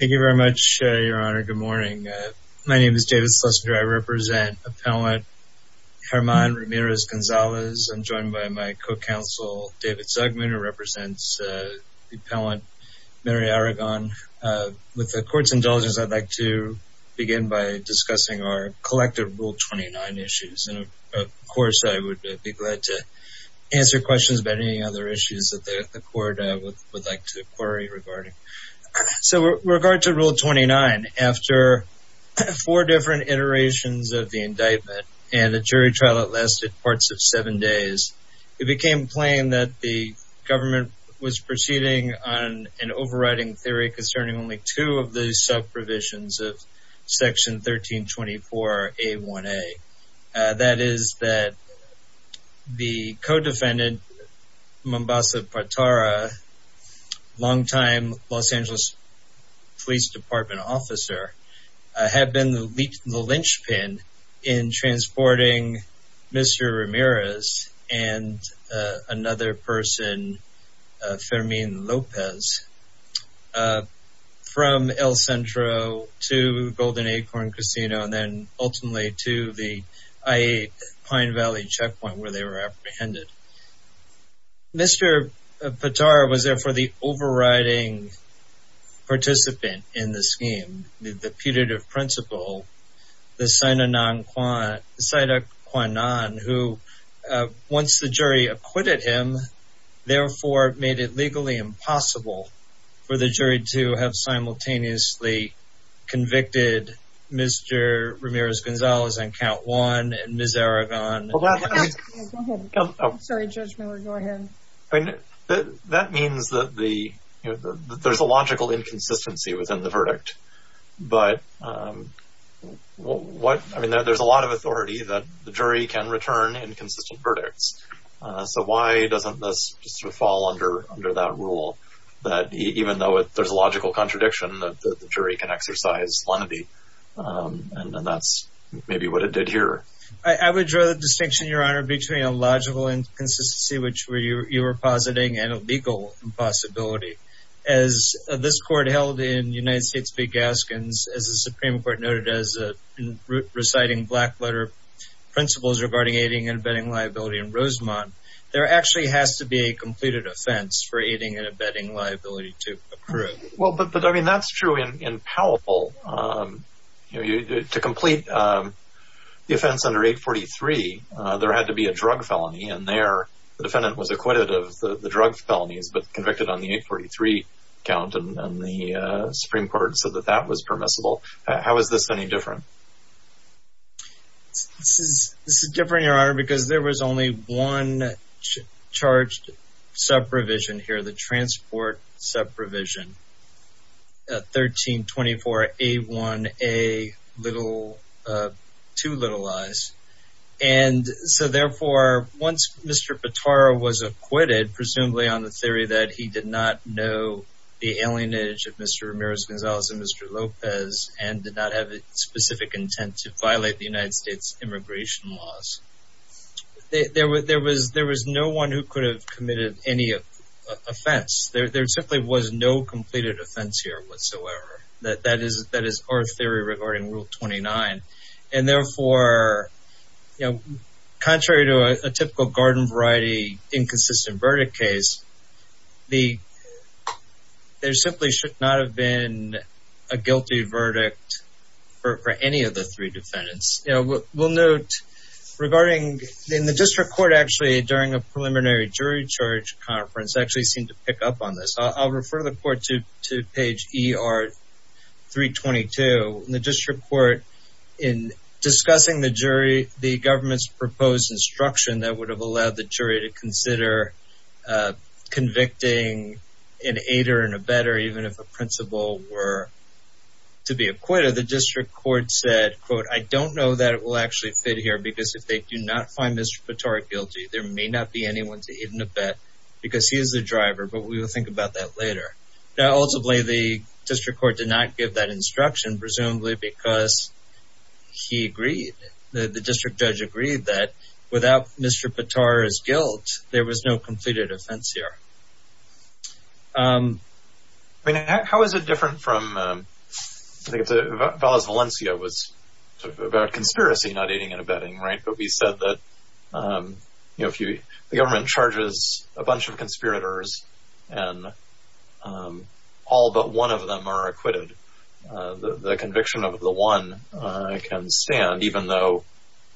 Thank you very much, Your Honor. Good morning. My name is David Slusker. I represent Appellant German Ramirez-Gonzalez. I'm joined by my co-counsel, David Zugman, who represents Appellant Mary Aragon. With the Court's indulgence, I'd like to begin by discussing our collective Rule 29 issues. And, of course, I would be glad to answer questions about any other issues that the Court would like to query regarding. So, with regard to Rule 29, after four different iterations of the indictment and a jury trial that lasted parts of seven days, it became plain that the government was proceeding on an overriding theory concerning only two of the sub-provisions of Section 1324A1A. That is that the co-defendant, Mombasa Partara, longtime Los Angeles Police Department officer, had been the linchpin in transporting Mr. Ramirez and another person, Fermin Lopez, from El Centro to Golden Acorn Casino, and then ultimately to the I-8 Pine Valley checkpoint where they were apprehended. Mr. Partara was therefore the overriding participant in the scheme. The putative principle, the sine qua non, who, once the jury acquitted him, therefore made it legally impossible for the jury to have simultaneously convicted Mr. Ramirez-Gonzalez on Count 1 and Ms. Aragon. I'm sorry, Judge Miller, go ahead. That means that there's a logical inconsistency within the verdict. But there's a lot of authority that the jury can return inconsistent verdicts. So why doesn't this fall under that rule, that even though there's a logical contradiction, the jury can exercise lenity? And that's maybe what it did here. I would draw the distinction, Your Honor, between a logical inconsistency, which you were positing, and a legal impossibility. As this court held in United States v. Gaskins, as the Supreme Court noted as reciting black-letter principles regarding aiding and abetting liability in Rosemont, there actually has to be a completed offense for aiding and abetting liability to approve. Well, but I mean, that's true in Powell. To complete the offense under 843, there had to be a drug felony. And there, the defendant was acquitted of the drug felonies, but convicted on the 843 count. And the Supreme Court said that that was permissible. How is this any different? This is different, Your Honor, because there was only one charged sub-provision here, the transport sub-provision, 1324A1A2. And so, therefore, once Mr. Petaro was acquitted, presumably on the theory that he did not know the alienage of Mr. Ramirez-Gonzalez and Mr. Lopez, and did not have a specific intent to violate the United States immigration laws, there was no one who could have committed any offense. There simply was no completed offense here whatsoever. That is our theory regarding Rule 29. And, therefore, contrary to a typical garden variety inconsistent verdict case, there simply should not have been a guilty verdict for any of the three defendants. We'll note regarding in the district court, actually, during a preliminary jury charge conference, actually seemed to pick up on this. I'll refer the court to page ER322. In the district court, in discussing the jury, the government's proposed instruction that would have allowed the jury to consider convicting an aider and abetter, even if a principal were to be acquitted, the district court said, quote, I don't know that it will actually fit here because if they do not find Mr. Petaro guilty, there may not be anyone to even abet because he is the driver. Now, ultimately, the district court did not give that instruction, presumably because he agreed. The district judge agreed that without Mr. Petaro's guilt, there was no completed offense here. I mean, how is it different from Valencia was about conspiracy, not aiding and abetting, right? It would be said that, you know, if the government charges a bunch of conspirators and all but one of them are acquitted, the conviction of the one can stand, even though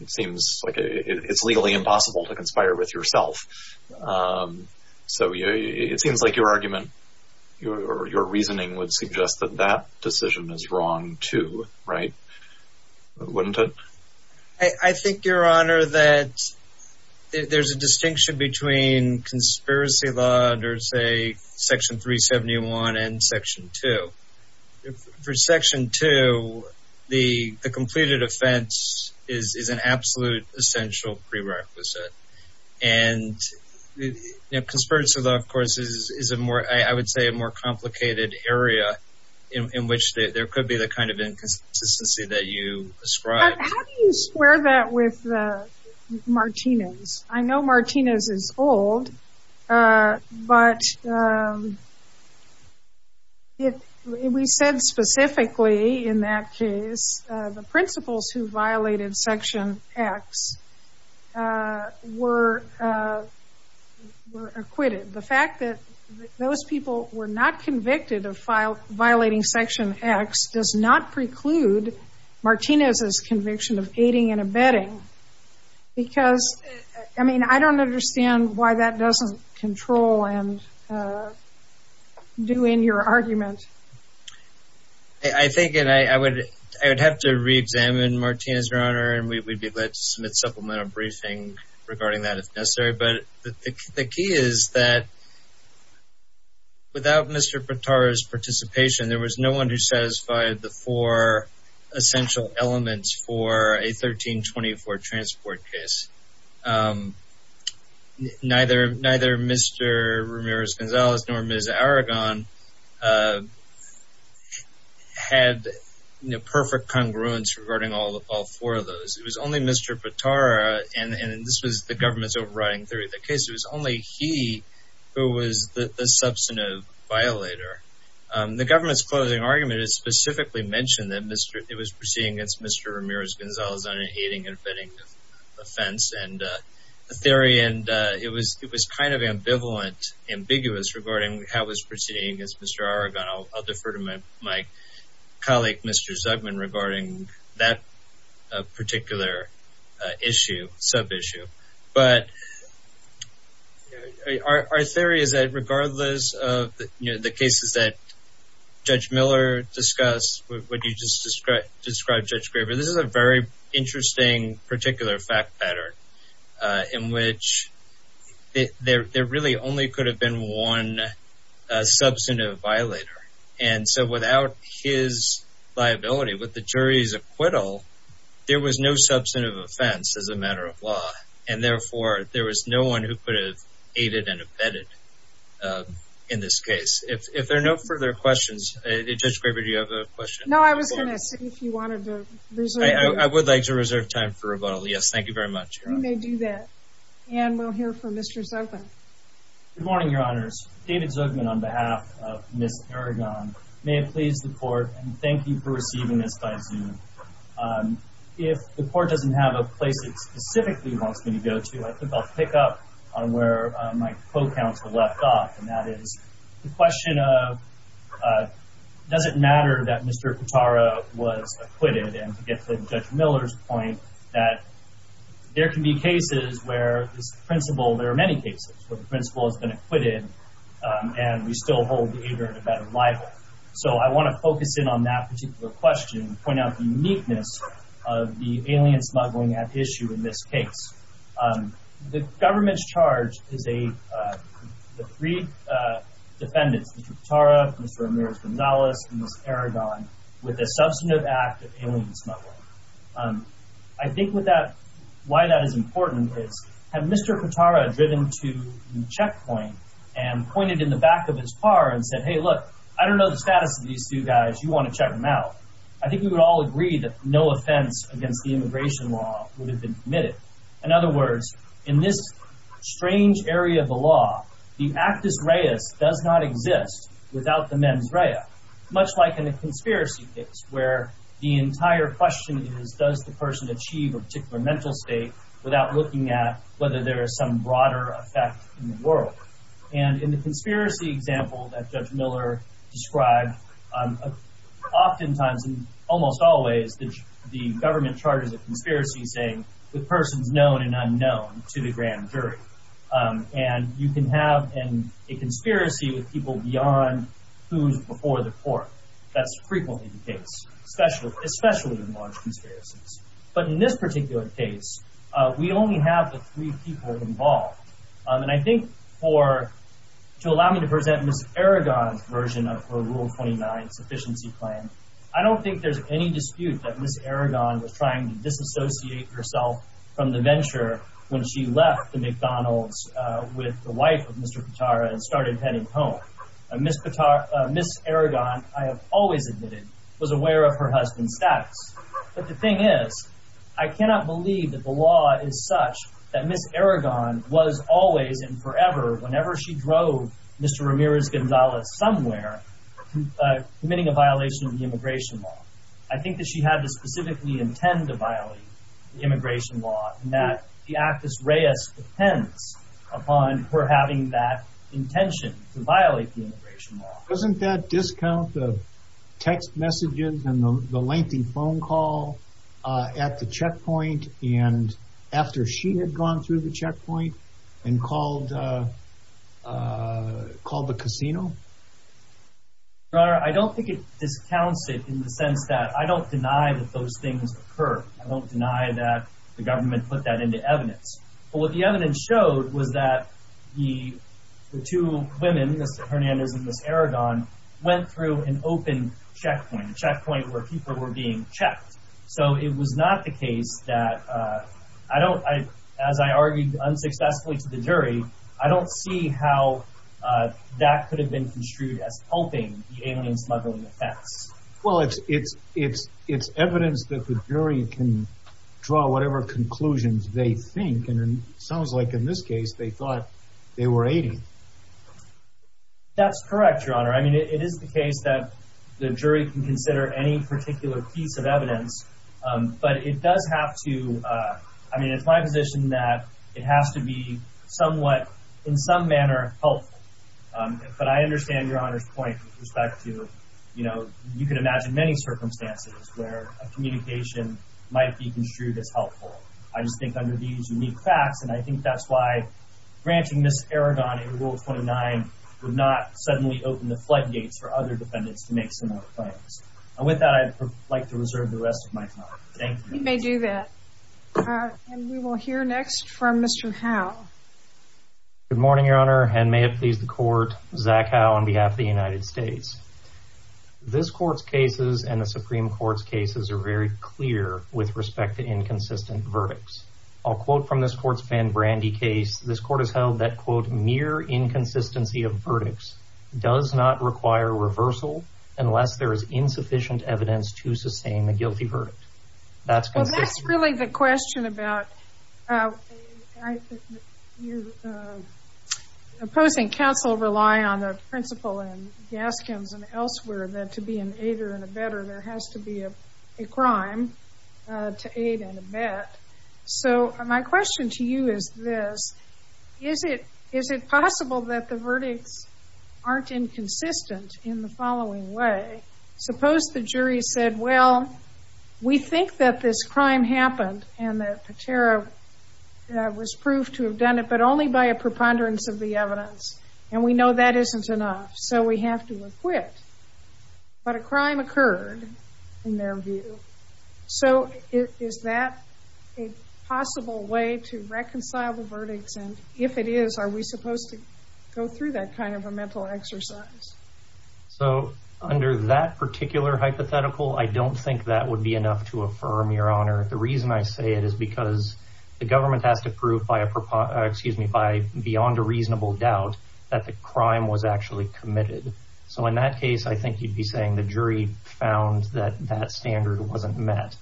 it seems like it's legally impossible to conspire with yourself. So it seems like your argument or your reasoning would suggest that that decision is wrong, too, right? Wouldn't it? I think, Your Honor, that there's a distinction between conspiracy law under, say, Section 371 and Section 2. For Section 2, the completed offense is an absolute essential prerequisite. And conspiracy law, of course, is a more, I would say, a more complicated area in which there could be the kind of inconsistency that you ascribe. How do you square that with Martinez? I know Martinez is old, but we said specifically in that case the principals who violated Section X were acquitted. The fact that those people were not convicted of violating Section X does not preclude Martinez's conviction of aiding and abetting. Because, I mean, I don't understand why that doesn't control and do in your argument. I think, and I would have to reexamine Martinez, Your Honor, and we'd be glad to submit supplemental briefing regarding that if necessary. But the key is that without Mr. Potara's participation, there was no one who satisfied the four essential elements for a 1324 transport case. Neither Mr. Ramirez-Gonzalez nor Ms. Aragon had perfect congruence regarding all four of those. It was only Mr. Potara, and this was the government's overriding theory of the case, it was only he who was the substantive violator. The government's closing argument is specifically mentioned that it was proceeding against Mr. Ramirez-Gonzalez on an aiding and abetting offense. And the theory, and it was kind of ambivalent, ambiguous regarding how it was proceeding against Mr. Aragon. I'll defer to my colleague, Mr. Zugman, regarding that particular issue, sub-issue. But our theory is that regardless of the cases that Judge Miller discussed, what you just described, Judge Graber, this is a very interesting particular fact pattern in which there really only could have been one substantive violator. And so without his liability, with the jury's acquittal, there was no substantive offense as a matter of law. And therefore, there was no one who could have aided and abetted in this case. If there are no further questions, Judge Graber, do you have a question? No, I was going to see if you wanted to reserve time. I would like to reserve time for rebuttal, yes, thank you very much. You may do that. And we'll hear from Mr. Zugman. Good morning, Your Honors. David Zugman on behalf of Ms. Aragon. May it please the Court, and thank you for receiving this by Zoom. If the Court doesn't have a place it specifically wants me to go to, I think I'll pick up on where my co-counsel left off, and that is the question of does it matter that Mr. Katara was acquitted? And to get to Judge Miller's point, that there can be cases where this principle, there are many cases where the principle has been acquitted, and we still hold the aider in a better libel. So I want to focus in on that particular question and point out the uniqueness of the alien smuggling at issue in this case. The government's charge is the three defendants, Mr. Katara, Mr. Ramirez-Gonzalez, and Ms. Aragon, with a substantive act of alien smuggling. I think why that is important is, had Mr. Katara driven to the checkpoint and pointed in the back of his car and said, Hey, look, I don't know the status of these two guys. You want to check them out? I think we would all agree that no offense against the immigration law would have been committed. In other words, in this strange area of the law, the actus reus does not exist without the mens rea, much like in the conspiracy case, where the entire question is, does the person achieve a particular mental state without looking at whether there is some broader effect in the world? And in the conspiracy example that Judge Miller described, oftentimes, almost always, the government charges a conspiracy saying the person's known and unknown to the grand jury. And you can have a conspiracy with people beyond who's before the court. That's frequently the case, especially in large conspiracies. But in this particular case, we only have the three people involved. And I think to allow me to present Ms. Aragon's version of her Rule 29 sufficiency plan, I don't think there's any dispute that Ms. Aragon was trying to disassociate herself from the venture when she left the McDonald's with the wife of Mr. Pitara and started heading home. Ms. Aragon, I have always admitted, was aware of her husband's status. But the thing is, I cannot believe that the law is such that Ms. Aragon was always and forever, whenever she drove Mr. Ramirez-Gonzalez somewhere, committing a violation of the immigration law. I think that she had to specifically intend to violate the immigration law, and that the actus reus depends upon her having that intention to violate the immigration law. Doesn't that discount the text messages and the lengthy phone call at the checkpoint, and after she had gone through the checkpoint and called the casino? Your Honor, I don't think it discounts it in the sense that I don't deny that those things occur. I don't deny that the government put that into evidence. But what the evidence showed was that the two women, Ms. Hernandez and Ms. Aragon, went through an open checkpoint, a checkpoint where people were being checked. So it was not the case that, as I argued unsuccessfully to the jury, I don't see how that could have been construed as helping the alien smuggling offense. Well, it's evidence that the jury can draw whatever conclusions they think, and it sounds like in this case they thought they were aiding. That's correct, Your Honor. I mean, it is the case that the jury can consider any particular piece of evidence, but it does have to, I mean, it's my position that it has to be somewhat, in some manner, helpful. But I understand Your Honor's point with respect to, you know, you can imagine many circumstances where a communication might be construed as helpful. I just think under these unique facts, and I think that's why branching Ms. Aragon in Rule 29 would not suddenly open the floodgates for other defendants to make similar claims. And with that, I'd like to reserve the rest of my time. Thank you. You may do that. And we will hear next from Mr. Howe. Good morning, Your Honor, and may it please the Court. Zach Howe on behalf of the United States. This Court's cases and the Supreme Court's cases are very clear with respect to inconsistent verdicts. I'll quote from this Court's Van Brandy case. This Court has held that, quote, unless there is insufficient evidence to sustain the guilty verdict. That's consistent. Well, that's really the question about opposing counsel relying on the principal and Gaskins and elsewhere that to be an aider and abetter, there has to be a crime to aid and abet. So my question to you is this. Is it possible that the verdicts aren't inconsistent in the following way? Suppose the jury said, well, we think that this crime happened and that Patera was proved to have done it, but only by a preponderance of the evidence. And we know that isn't enough, so we have to acquit. But a crime occurred, in their view. So is that a possible way to reconcile the verdicts? And if it is, are we supposed to go through that kind of a mental exercise? So under that particular hypothetical, I don't think that would be enough to affirm, Your Honor. The reason I say it is because the government has to prove by beyond a reasonable doubt that the crime was actually committed. So in that case, I think you'd be saying the jury found that that standard wasn't met.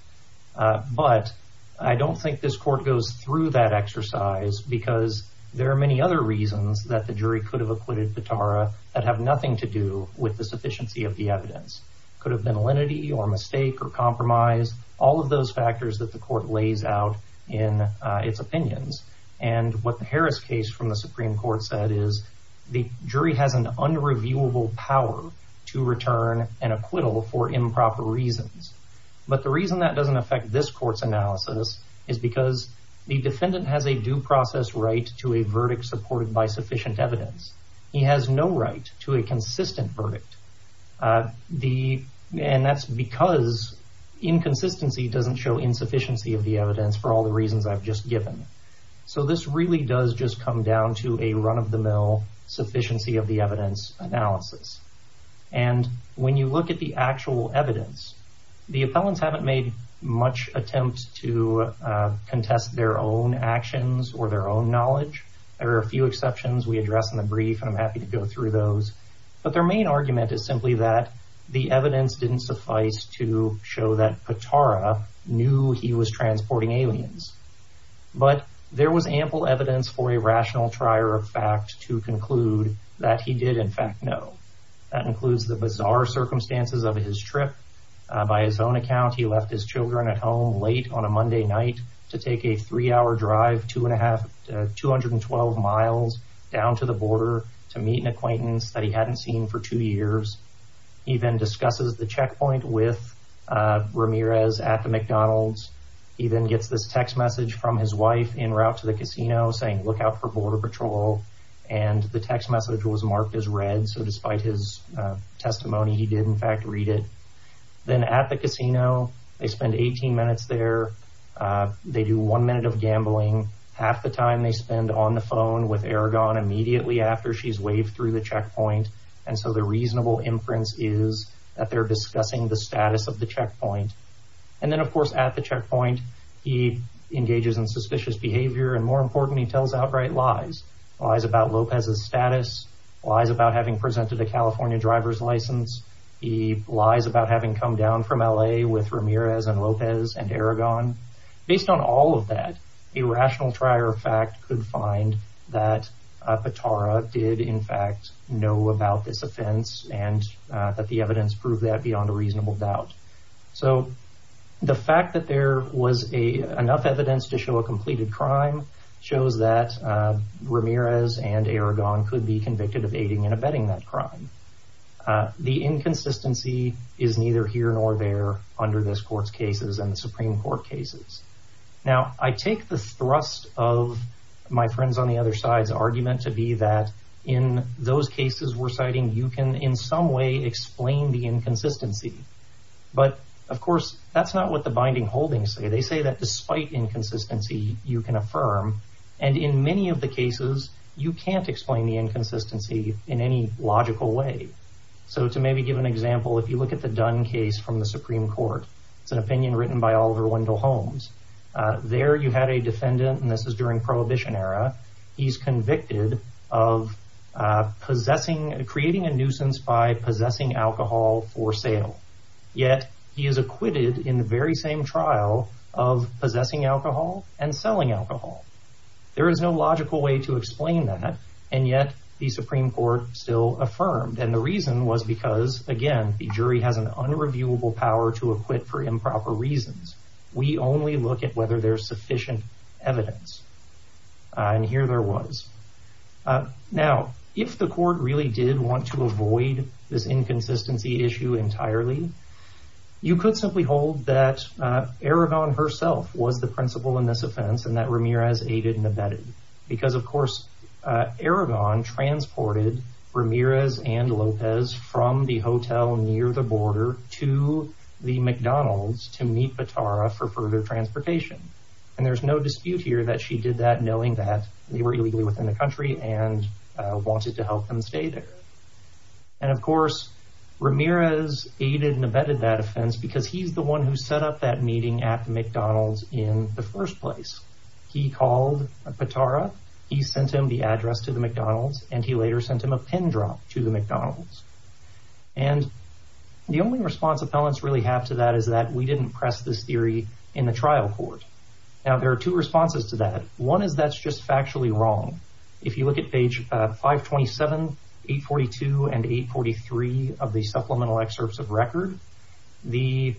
But I don't think this court goes through that exercise because there are many other reasons that the jury could have acquitted Patera that have nothing to do with the sufficiency of the evidence. Could have been a lenity or mistake or compromise. All of those factors that the court lays out in its opinions. And what the Harris case from the Supreme Court said is, the jury has an unreviewable power to return an acquittal for improper reasons. But the reason that doesn't affect this court's analysis is because the defendant has a due process right to a verdict supported by sufficient evidence. He has no right to a consistent verdict. And that's because inconsistency doesn't show insufficiency of the evidence for all the reasons I've just given. So this really does just come down to a run-of-the-mill sufficiency of the evidence analysis. And when you look at the actual evidence, the appellants haven't made much attempt to contest their own actions or their own knowledge. There are a few exceptions we address in the brief, and I'm happy to go through those. But their main argument is simply that the evidence didn't suffice to show that Patara knew he was transporting aliens. But there was ample evidence for a rational trier of fact to conclude that he did in fact know. That includes the bizarre circumstances of his trip. By his own account, he left his children at home late on a Monday night to take a three-hour drive, two and a half, two hundred and twelve miles down to the border to meet an acquaintance that he hadn't seen for two years. He then discusses the checkpoint with Ramirez at the McDonald's. He then gets this text message from his wife en route to the casino saying, look out for border patrol. And the text message was marked as red. So despite his testimony, he did in fact read it. Then at the casino, they spend 18 minutes there. They do one minute of gambling. Half the time they spend on the phone with Aragon immediately after she's waved through the checkpoint. And so the reasonable inference is that they're discussing the status of the checkpoint. And then, of course, at the checkpoint, he engages in suspicious behavior. And more importantly, he tells outright lies. Lies about Lopez's status. Lies about having presented a California driver's license. He lies about having come down from L.A. with Ramirez and Lopez and Aragon. Based on all of that, a rational trier of fact could find that Petara did in fact know about this offense and that the evidence proved that beyond a reasonable doubt. So the fact that there was enough evidence to show a completed crime shows that Ramirez and Aragon could be convicted of aiding and abetting that crime. The inconsistency is neither here nor there under this court's cases and the Supreme Court cases. Now, I take the thrust of my friends on the other side's argument to be that in those cases we're citing, you can in some way explain the inconsistency. But, of course, that's not what the binding holdings say. They say that despite inconsistency, you can affirm. And in many of the cases, you can't explain the inconsistency in any logical way. So to maybe give an example, if you look at the Dunn case from the Supreme Court, it's an opinion written by Oliver Wendell Holmes. There you had a defendant, and this is during Prohibition era, he's convicted of creating a nuisance by possessing alcohol for sale. Yet, he is acquitted in the very same trial of possessing alcohol and selling alcohol. There is no logical way to explain that, and yet the Supreme Court still affirmed. And the reason was because, again, the jury has an unreviewable power to acquit for improper reasons. We only look at whether there's sufficient evidence. And here there was. Now, if the court really did want to avoid this inconsistency issue entirely, you could simply hold that Aragon herself was the principal in this offense, and that Ramirez aided and abetted. Because, of course, Aragon transported Ramirez and Lopez from the hotel near the border to the McDonald's to meet Batara for further transportation. And there's no dispute here that she did that knowing that they were illegally within the country and wanted to help them stay there. And, of course, Ramirez aided and abetted that offense because he's the one who set up that meeting at McDonald's in the first place. He called Batara, he sent him the address to the McDonald's, and he later sent him a pin drop to the McDonald's. And the only response appellants really have to that is that we didn't press this theory in the trial court. Now, there are two responses to that. One is that's just factually wrong. If you look at page 527, 842, and 843 of the supplemental excerpts of record, the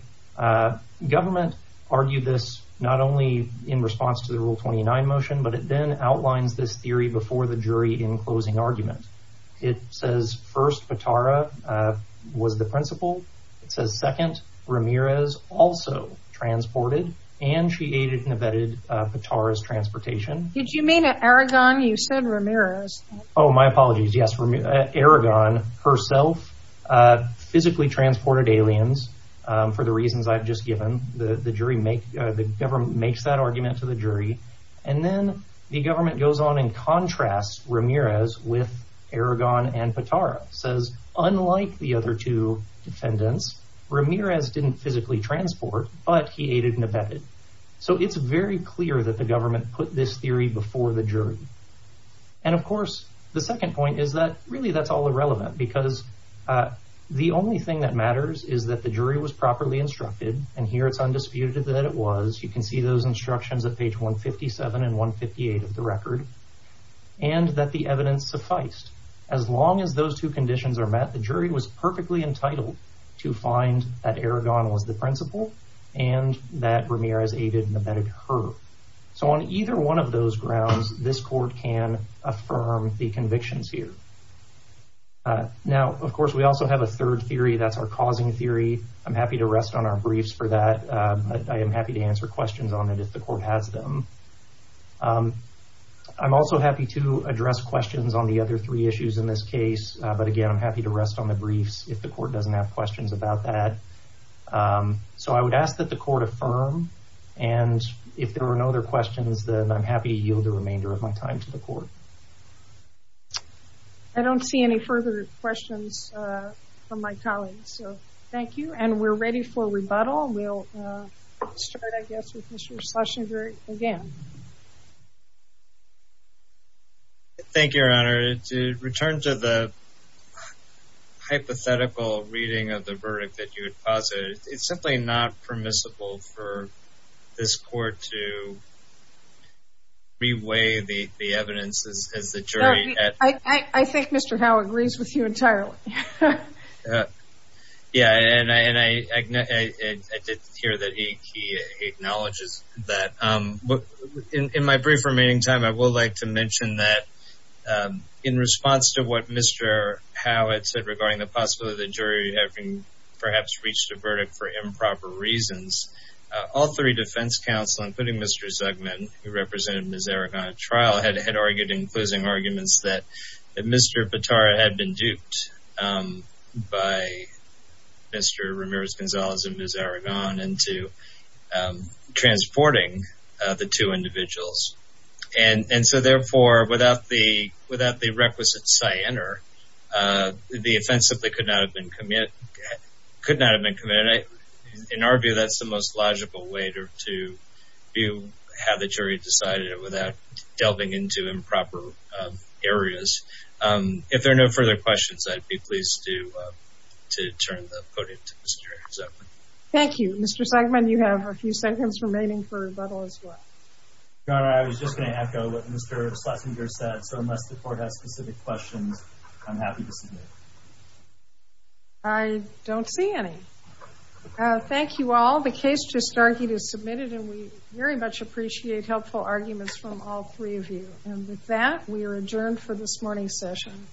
government argued this not only in response to the Rule 29 motion, but it then outlines this theory before the jury in closing argument. It says, first, Batara was the principal. It says, second, Ramirez also transported, and she aided and abetted Batara's transportation. Did you mean Aragon? You said Ramirez. Oh, my apologies. Yes, Aragon herself physically transported aliens for the reasons I've just given. The government makes that argument to the jury. And then the government goes on and contrasts Ramirez with Aragon and Batara. It says, unlike the other two defendants, Ramirez didn't physically transport, but he aided and abetted. So it's very clear that the government put this theory before the jury. And, of course, the second point is that really that's all irrelevant, because the only thing that matters is that the jury was properly instructed, and here it's undisputed that it was. You can see those instructions at page 157 and 158 of the record, and that the evidence sufficed. As long as those two conditions are met, the jury was perfectly entitled to find that Aragon was the principal and that Ramirez aided and abetted her. So on either one of those grounds, this court can affirm the convictions here. Now, of course, we also have a third theory. That's our causing theory. I'm happy to rest on our briefs for that. I am happy to answer questions on it if the court has them. I'm also happy to address questions on the other three issues in this case, but, again, I'm happy to rest on the briefs if the court doesn't have questions about that. So I would ask that the court affirm, and if there are no other questions, then I'm happy to yield the remainder of my time to the court. I don't see any further questions from my colleagues, so thank you. And we're ready for rebuttal. We'll start, I guess, with Mr. Schlesinger again. Thank you, Your Honor. To return to the hypothetical reading of the verdict that you had posited, it's simply not permissible for this court to re-weigh the evidence as the jury. I think Mr. Howe agrees with you entirely. Yeah, and I did hear that he acknowledges that. In my brief remaining time, I would like to mention that in response to what Mr. Howe had said regarding the possibility of the jury having perhaps reached a verdict for improper reasons, all three defense counsel, including Mr. Zugman, who represented Ms. Eric on trial, had argued in closing arguments that Mr. Batara had been duped by Mr. Ramirez-Gonzalez and Ms. Aragon into transporting the two individuals. And so therefore, without the requisite cyanar, the offense simply could not have been committed. In our view, that's the most logical way to view how the jury decided it without delving into improper areas. If there are no further questions, I'd be pleased to turn the podium to Mr. Zugman. Thank you. Mr. Zugman, you have a few seconds remaining for rebuttal as well. Your Honor, I was just going to echo what Mr. Schlesinger said. So unless the court has specific questions, I'm happy to submit. I don't see any. Thank you all. The case just argued is submitted, and we very much appreciate helpful arguments from all three of you. And with that, we are adjourned for this morning's session.